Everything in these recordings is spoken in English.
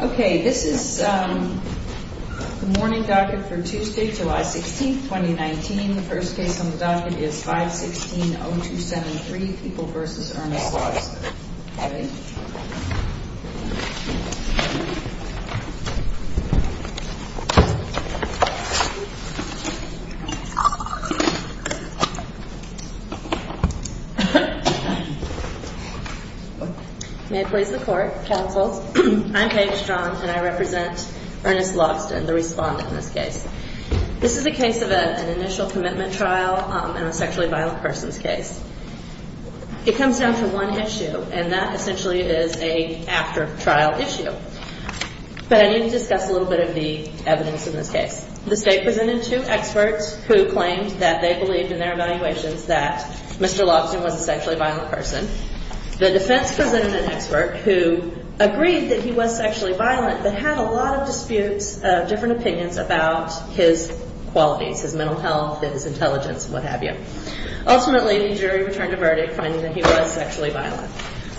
Okay, this is the morning docket for Tuesday, July 16th, 2019. The first case on the docket is 516-0273, People v. Ernest Logsdon. May it please the Court. Counsel. I'm Paige Strong and I represent Ernest Logsdon, the respondent in this case. This is a case of an initial commitment trial in a sexually violent person's case. It comes down to one issue, and that essentially is an after-trial issue. But I need to discuss a little bit of the evidence in this case. The State presented two experts who claimed that they believed in their evaluations that Mr. Logsdon was a sexually violent person. The defense presented an expert who agreed that he was sexually violent but had a lot of disputes, different opinions about his qualities, his mental health, his intelligence, what have you. Ultimately, the jury returned a verdict finding that he was sexually violent.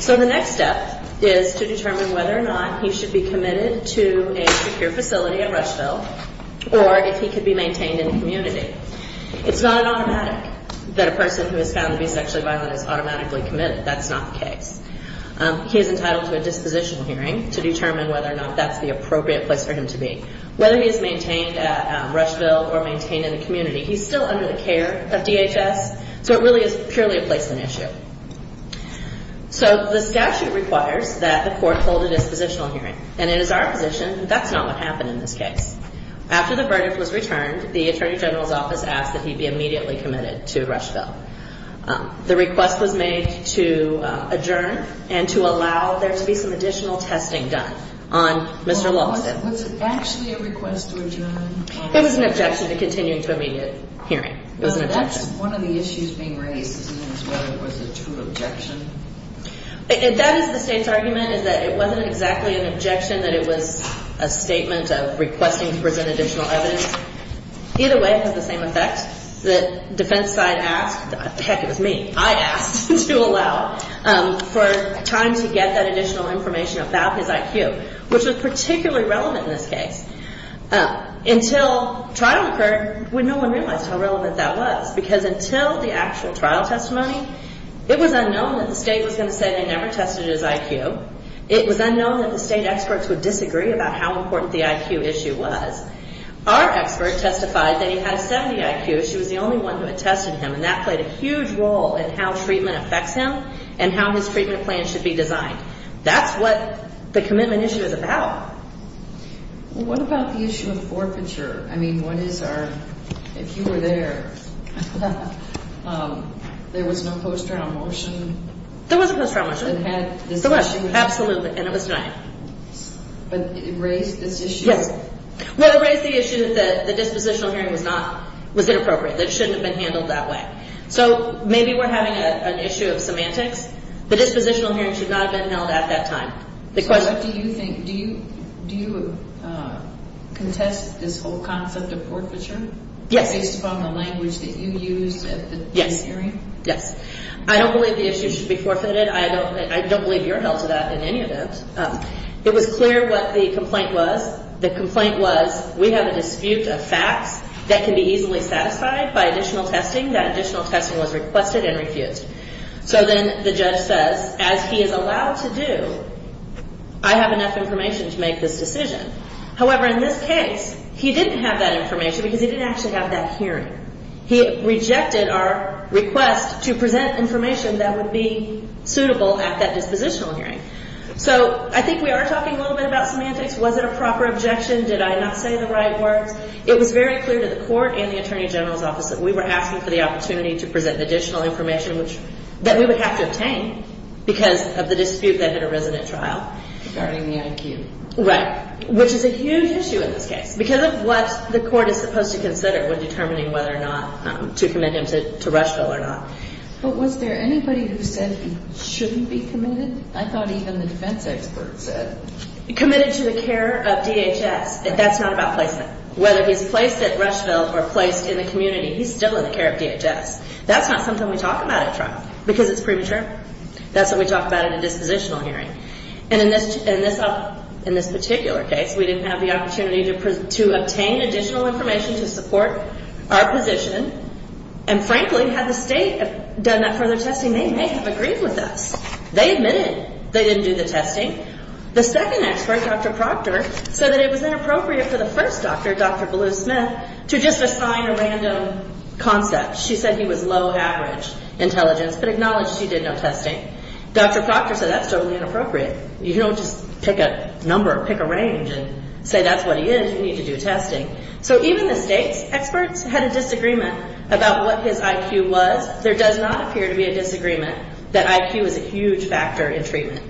So the next step is to determine whether or not he should be committed to a secure facility at Rushville or if he could be maintained in the community. It's not an automatic that a person who has found to be sexually violent is automatically committed. That's not the case. He is entitled to a dispositional hearing to determine whether or not that's the appropriate place for him to be. Whether he is maintained at Rushville or maintained in the community, he's still under the care of DHS, so it really is purely a placement issue. So the statute requires that the court hold a dispositional hearing, and it is our position that that's not what happened in this case. After the verdict was returned, the Attorney General's office asked that he be immediately committed to Rushville. The request was made to adjourn and to allow there to be some additional testing done on Mr. Logsdon. Was it actually a request to adjourn? It was an objection to continuing to immediate hearing. It was an objection. One of the issues being raised is whether it was a true objection. That is the State's argument, is that it wasn't exactly an objection, that it was a statement of requesting to present additional evidence. Either way, it had the same effect. The defense side asked, heck, it was me, I asked to allow for time to get that additional information about his IQ, which was particularly relevant in this case. Until trial occurred, no one realized how relevant that was, because until the actual trial testimony, it was unknown that the State was going to say they never tested his IQ. It was unknown that the State experts would disagree about how important the IQ issue was. Our expert testified that he had a 70 IQ. She was the only one who had tested him, and that played a huge role in how treatment affects him and how his treatment plan should be designed. That's what the commitment issue is about. What about the issue of forfeiture? I mean, what is our, if you were there, there was no post-trial motion? There was a post-trial motion. It had this issue. Absolutely, and it was denied. But it raised this issue. Yes. Well, it raised the issue that the dispositional hearing was not, was inappropriate, that it shouldn't have been handled that way. So maybe we're having an issue of semantics. The dispositional hearing should not have been held at that time. So what do you think? Do you contest this whole concept of forfeiture? Yes. Based upon the language that you used at the hearing? Yes. Yes. I don't believe the issue should be forfeited. I don't believe you're held to that in any event. It was clear what the complaint was. The complaint was, we have a dispute of facts that can be easily satisfied by additional testing. That additional testing was requested and refused. So then the judge says, as he is allowed to do, I have enough information to make this decision. However, in this case, he didn't have that information because he didn't actually have that hearing. He rejected our request to present information that would be suitable at that dispositional hearing. So I think we are talking a little bit about semantics. Was it a proper objection? Did I not say the right words? It was very clear to the court and the attorney general's office that we were asking for the opportunity to present additional information that we would have to obtain because of the dispute that hit a resident trial. Regarding the IQ. Right. Which is a huge issue in this case because of what the court is supposed to consider when determining whether or not to commit him to Rushville or not. But was there anybody who said he shouldn't be committed? I thought even the defense expert said. Committed to the care of DHS. That's not about placement. Whether he's placed at Rushville or placed in the community, he's still in the care of DHS. That's not something we talk about at trial because it's premature. That's what we talk about at a dispositional hearing. And in this particular case, we didn't have the opportunity to obtain additional information to support our position. And frankly, had the state done that further testing, they may have agreed with us. They admitted they didn't do the testing. The second expert, Dr. Proctor, said that it was inappropriate for the first doctor, Dr. Blue Smith, to just assign a random concept. She said he was low average intelligence but acknowledged she did no testing. Dr. Proctor said that's totally inappropriate. You don't just pick a number or pick a range and say that's what he is. You need to do testing. So even the state's experts had a disagreement about what his IQ was. There does not appear to be a disagreement that IQ is a huge factor in treatment.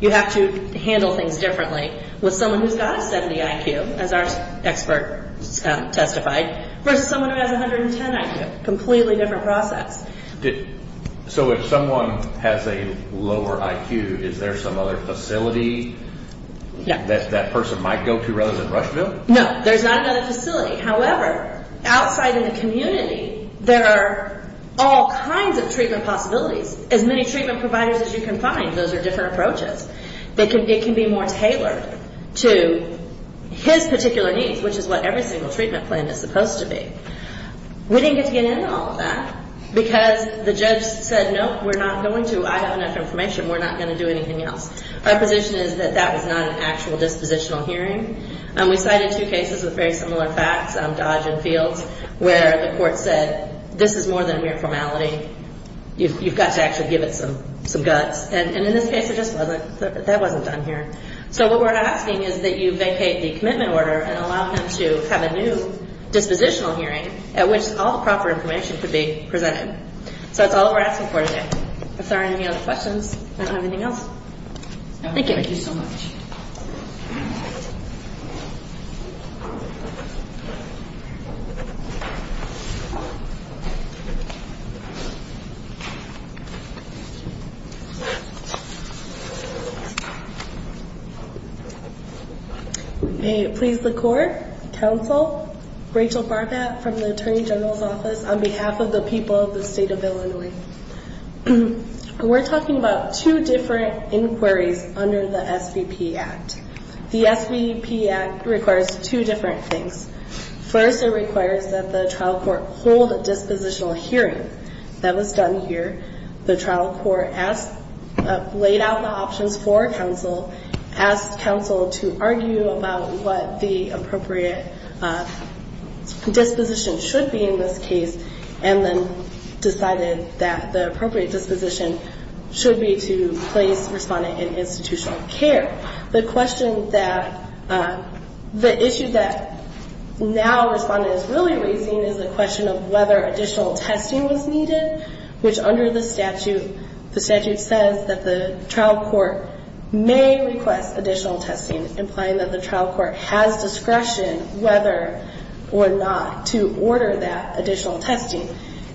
You have to handle things differently with someone who's got a 70 IQ, as our expert testified, versus someone who has a 110 IQ. Completely different process. So if someone has a lower IQ, is there some other facility that that person might go to rather than Rushville? No, there's not another facility. However, outside in the community, there are all kinds of treatment possibilities. As many treatment providers as you can find, those are different approaches. It can be more tailored to his particular needs, which is what every single treatment plan is supposed to be. We didn't get to get into all of that because the judge said, no, we're not going to. I have enough information. We're not going to do anything else. Our position is that that was not an actual dispositional hearing. We cited two cases with very similar facts, Dodge and Fields, where the court said, this is more than a mere formality. You've got to actually give it some guts. And in this case, it just wasn't. That wasn't done here. So what we're asking is that you vacate the commitment order and allow him to have a new dispositional hearing at which all the proper information could be presented. So that's all we're asking for today. If there are any other questions, I don't have anything else. Thank you. Thank you so much. May it please the court, counsel, Rachel Barbat from the Attorney General's Office, on behalf of the people of the state of Illinois. We're talking about two different inquiries under the SVP Act. The SVP Act requires two different things. First, it requires that the trial court hold a dispositional hearing. That was done here. The trial court laid out the options for counsel, asked counsel to argue about what the appropriate disposition should be in this case, and then decided that the appropriate disposition should be to place respondent in institutional care. The question that the issue that now respondent is really raising is the question of whether additional testing was needed, which under the statute, the statute says that the trial court may request additional testing, implying that the trial court has discretion whether or not to order that additional testing.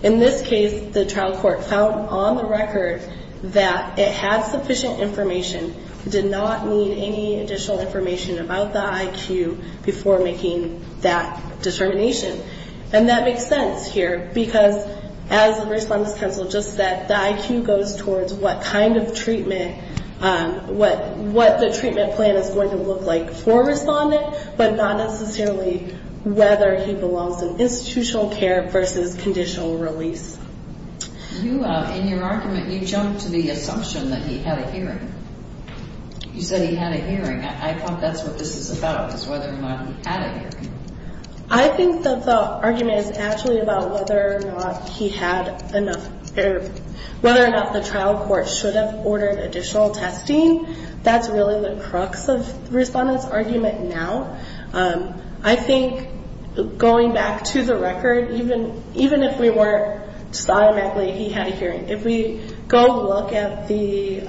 In this case, the trial court found on the record that it had sufficient information, did not need any additional information about the IQ before making that determination. And that makes sense here because, as the respondent's counsel just said, the IQ goes towards what kind of treatment, what the treatment plan is going to look like for a respondent, but not necessarily whether he belongs in institutional care versus conditional release. In your argument, you jumped to the assumption that he had a hearing. You said he had a hearing. I thought that's what this is about, is whether or not he had a hearing. I think that the argument is actually about whether or not he had enough, or whether or not the trial court should have ordered additional testing. That's really the crux of the respondent's argument now. I think, going back to the record, even if we weren't, just automatically, he had a hearing. If we go look at the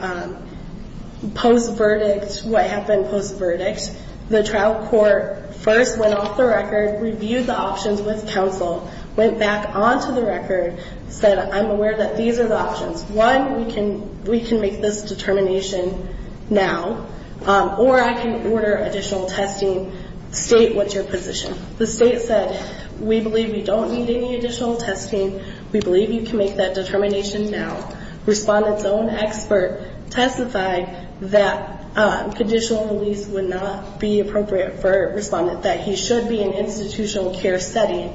post-verdict, what happened post-verdict, the trial court first went off the record, reviewed the options with counsel, went back onto the record, said, I'm aware that these are the options. One, we can make this determination now, or I can order additional testing. State what's your position. The state said, we believe we don't need any additional testing. We believe you can make that determination now. Respondent's own expert testified that conditional release would not be appropriate for a respondent, that he should be in an institutional care setting.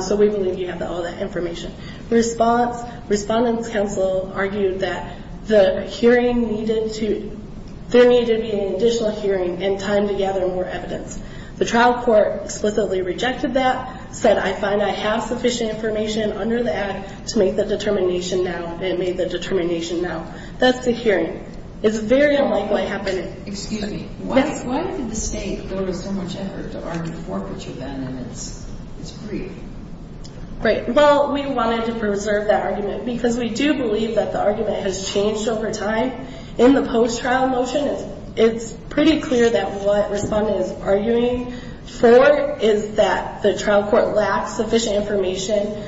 So we believe you have all that information. Respondent's counsel argued that there needed to be an additional hearing and time to gather more evidence. The trial court explicitly rejected that, said, I find I have sufficient information under the act to make the determination now, and made the determination now. That's the hearing. It's very unlikely to happen. Excuse me. Why did the state go to so much effort to argue forfeiture then, and it's brief? Right. Well, we wanted to preserve that argument because we do believe that the argument has changed over time. In the post-trial motion, it's pretty clear that what respondent is arguing for is that the trial court lacks sufficient information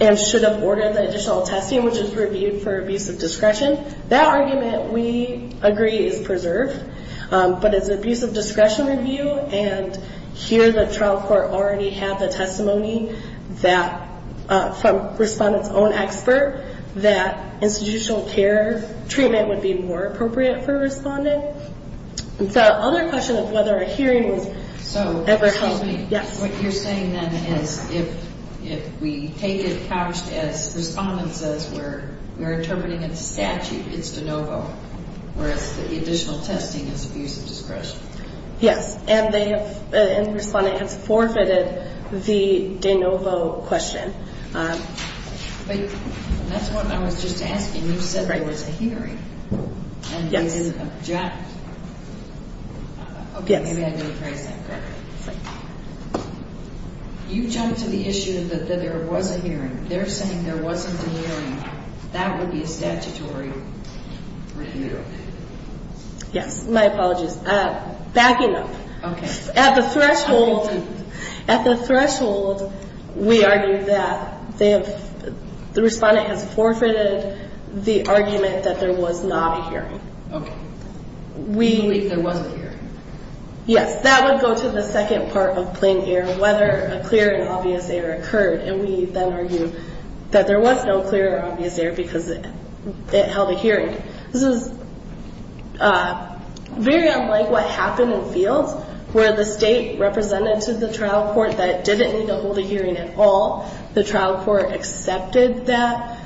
and should have ordered the additional testing, which is reviewed for abuse of discretion. That argument, we agree, is preserved, but it's abuse of discretion review, and here the trial court already had the testimony from respondent's own expert that institutional care treatment would be more appropriate for respondent. The other question of whether a hearing was ever held. So, excuse me. Yes. What you're saying then is if we take it couched as respondent says we're determining it's statute, it's de novo, whereas the additional testing is abuse of discretion. Yes, and the respondent has forfeited the de novo question. But that's what I was just asking. You said there was a hearing. Yes. And you didn't object. Yes. Okay. Maybe I didn't phrase that correctly. You jumped to the issue that there was a hearing. They're saying there wasn't a hearing. That would be a statutory review. Yes. My apologies. Backing up. Okay. At the threshold, we argue that the respondent has forfeited the argument that there was not a hearing. Okay. We believe there was a hearing. Yes. That would go to the second part of plain error, whether a clear and obvious error occurred, and we then argue that there was no clear or obvious error because it held a hearing. This is very unlike what happened in fields where the state represented to the trial court that it didn't need to hold a hearing at all. The trial court accepted that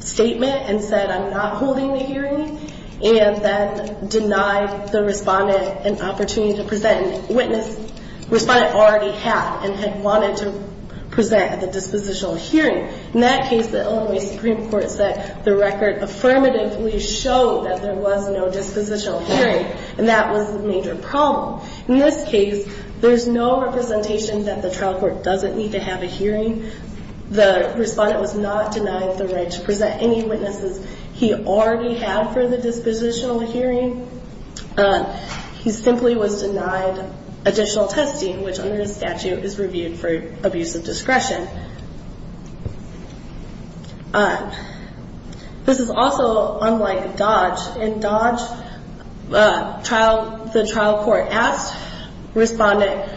statement and said, I'm not holding the hearing, and then denied the respondent an opportunity to present. The respondent already had and had wanted to present at the dispositional hearing. In that case, the Illinois Supreme Court said the record affirmatively showed that there was no dispositional hearing, and that was the major problem. In this case, there's no representation that the trial court doesn't need to have a hearing. The respondent was not denied the right to present any witnesses he already had for the dispositional hearing. He simply was denied additional testing, which under the statute is reviewed for abuse of discretion. This is also unlike Dodge. In Dodge, the trial court asked the respondent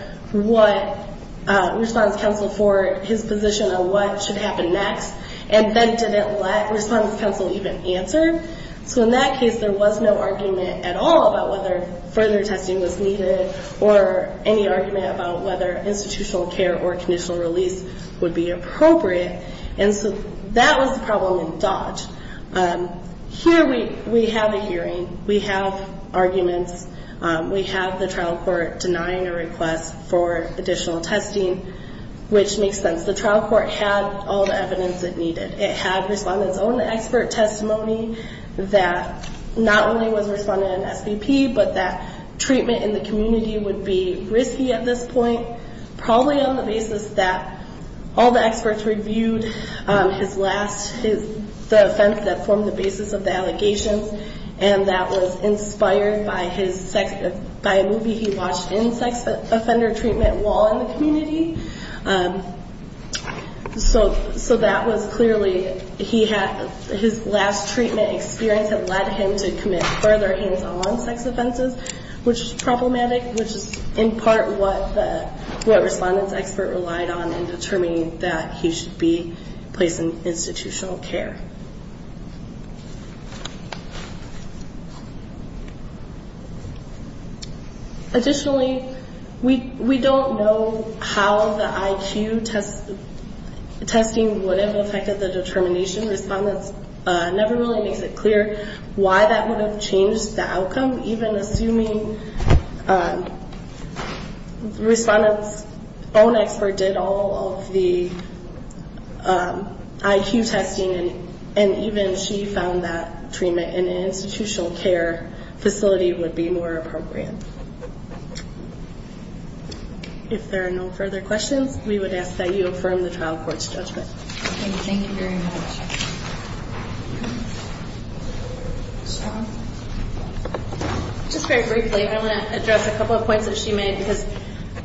for his position on what should happen next, and then didn't let respondent counsel even answer. So in that case, there was no argument at all about whether further testing was needed or any argument about whether institutional care or conditional release would be appropriate. And so that was the problem in Dodge. Here we have a hearing. We have arguments. We have the trial court denying a request for additional testing, which makes sense. The trial court had all the evidence it needed. It had respondent's own expert testimony that not only was respondent an SVP, but that treatment in the community would be risky at this point, probably on the basis that all the experts reviewed the offense that formed the basis of the allegations, and that was inspired by a movie he watched in sex offender treatment while in the community. So that was clearly his last treatment experience that led him to commit further hands-on sex offenses, which is problematic, which is in part what the respondent's expert relied on in determining that he should be placed in institutional care. Additionally, we don't know how the IQ testing would have affected the determination. Respondent never really makes it clear why that would have changed the outcome, even assuming respondent's own expert did all of the IQ testing, and even she found that treatment in an institutional care facility would be more appropriate. If there are no further questions, we would ask that you affirm the trial court's judgment. Thank you very much. Just very briefly, I want to address a couple of points that she made, because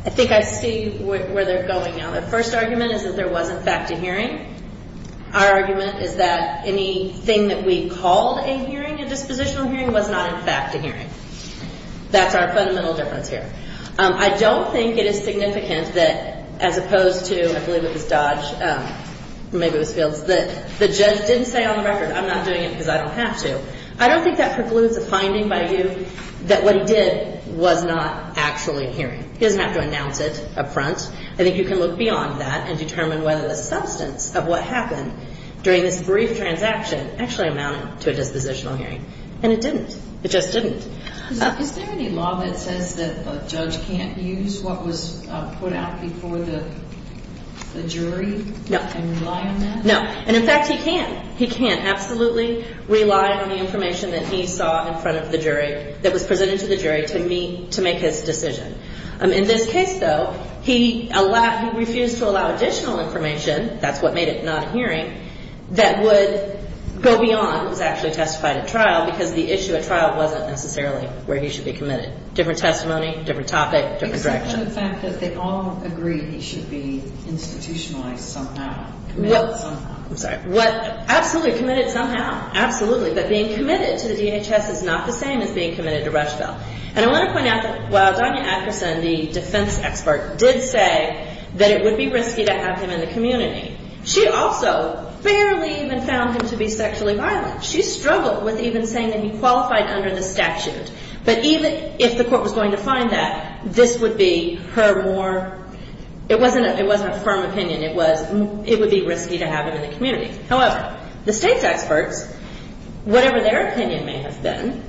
I think I see where they're going now. The first argument is that there was, in fact, a hearing. Our argument is that anything that we called a hearing, a dispositional hearing, was not, in fact, a hearing. That's our fundamental difference here. I don't think it is significant that, as opposed to, I believe it was Dodge, maybe it was Fields, that the judge didn't say on the record, I'm not doing it because I don't have to. I don't think that precludes a finding by you that what he did was not actually a hearing. He doesn't have to announce it up front. I think you can look beyond that and determine whether the substance of what happened during this brief transaction actually amounted to a dispositional hearing, and it didn't. It just didn't. Is there any law that says that a judge can't use what was put out before the jury and rely on that? No, and, in fact, he can. He can absolutely rely on the information that he saw in front of the jury, that was presented to the jury, to make his decision. In this case, though, he refused to allow additional information, that's what made it not a hearing, that would go beyond what was actually testified at trial because the issue at trial wasn't necessarily where he should be committed. Different testimony, different topic, different direction. What about the fact that they all agree he should be institutionalized somehow, committed somehow? I'm sorry. Absolutely committed somehow, absolutely, but being committed to the DHS is not the same as being committed to Rushville. And I want to point out that while Donna Akerson, the defense expert, did say that it would be risky to have him in the community, she also barely even found him to be sexually violent. She struggled with even saying that he qualified under the statute, but even if the court was going to find that, this would be her more, it wasn't a firm opinion, it would be risky to have him in the community. However, the state's experts, whatever their opinion may have been,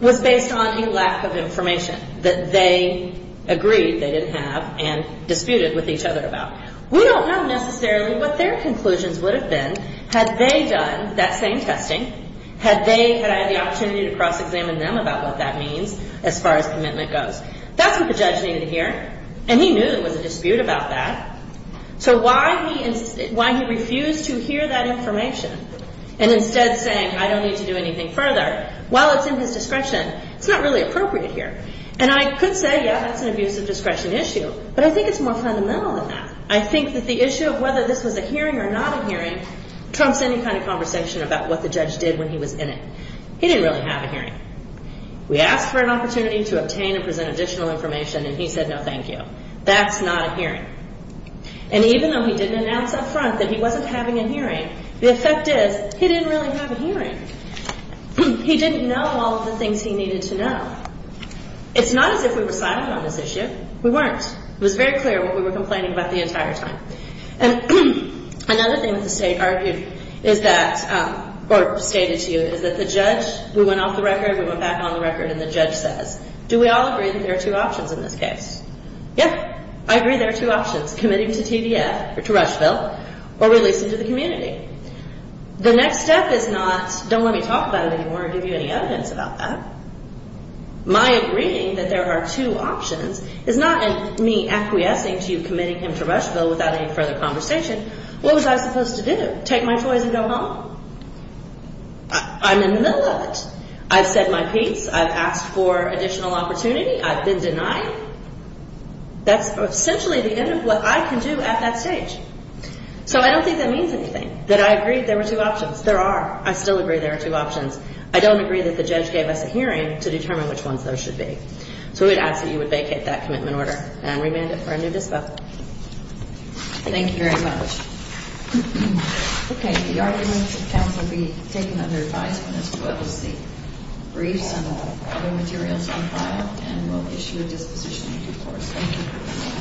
was based on a lack of information that they agreed they didn't have and disputed with each other about. We don't know necessarily what their conclusions would have been had they done that same testing, had I had the opportunity to cross-examine them about what that means as far as commitment goes. That's what the judge needed to hear, and he knew there was a dispute about that. So why he refused to hear that information and instead saying, I don't need to do anything further, while it's in his discretion, it's not really appropriate here. And I could say, yeah, that's an abuse of discretion issue, but I think it's more fundamental than that. I think that the issue of whether this was a hearing or not a hearing trumps any kind of conversation about what the judge did when he was in it. He didn't really have a hearing. We asked for an opportunity to obtain and present additional information, and he said, no, thank you. That's not a hearing. And even though he didn't announce up front that he wasn't having a hearing, the effect is, he didn't really have a hearing. He didn't know all of the things he needed to know. It's not as if we were silent on this issue. We weren't. It was very clear what we were complaining about the entire time. Another thing that the state argued is that, or stated to you, is that the judge, we went off the record, we went back on the record, and the judge says, do we all agree that there are two options in this case? Yeah, I agree there are two options, committing to TDF or to Rushville or releasing to the community. The next step is not, don't let me talk about it anymore or give you any evidence about that. My agreeing that there are two options is not me acquiescing to you committing him to Rushville without any further conversation. What was I supposed to do, take my toys and go home? I'm in the middle of it. I've said my piece. I've asked for additional opportunity. I've been denied. That's essentially the end of what I can do at that stage. So I don't think that means anything, that I agree there were two options. There are. I still agree there are two options. I don't agree that the judge gave us a hearing to determine which ones there should be. So we'd ask that you would vacate that commitment order and remand it for a new dispo. Thank you very much. Okay, the arguments and comments will be taken under advisement as well as the briefs and other materials on file, and we'll issue a disposition in due course. Thank you.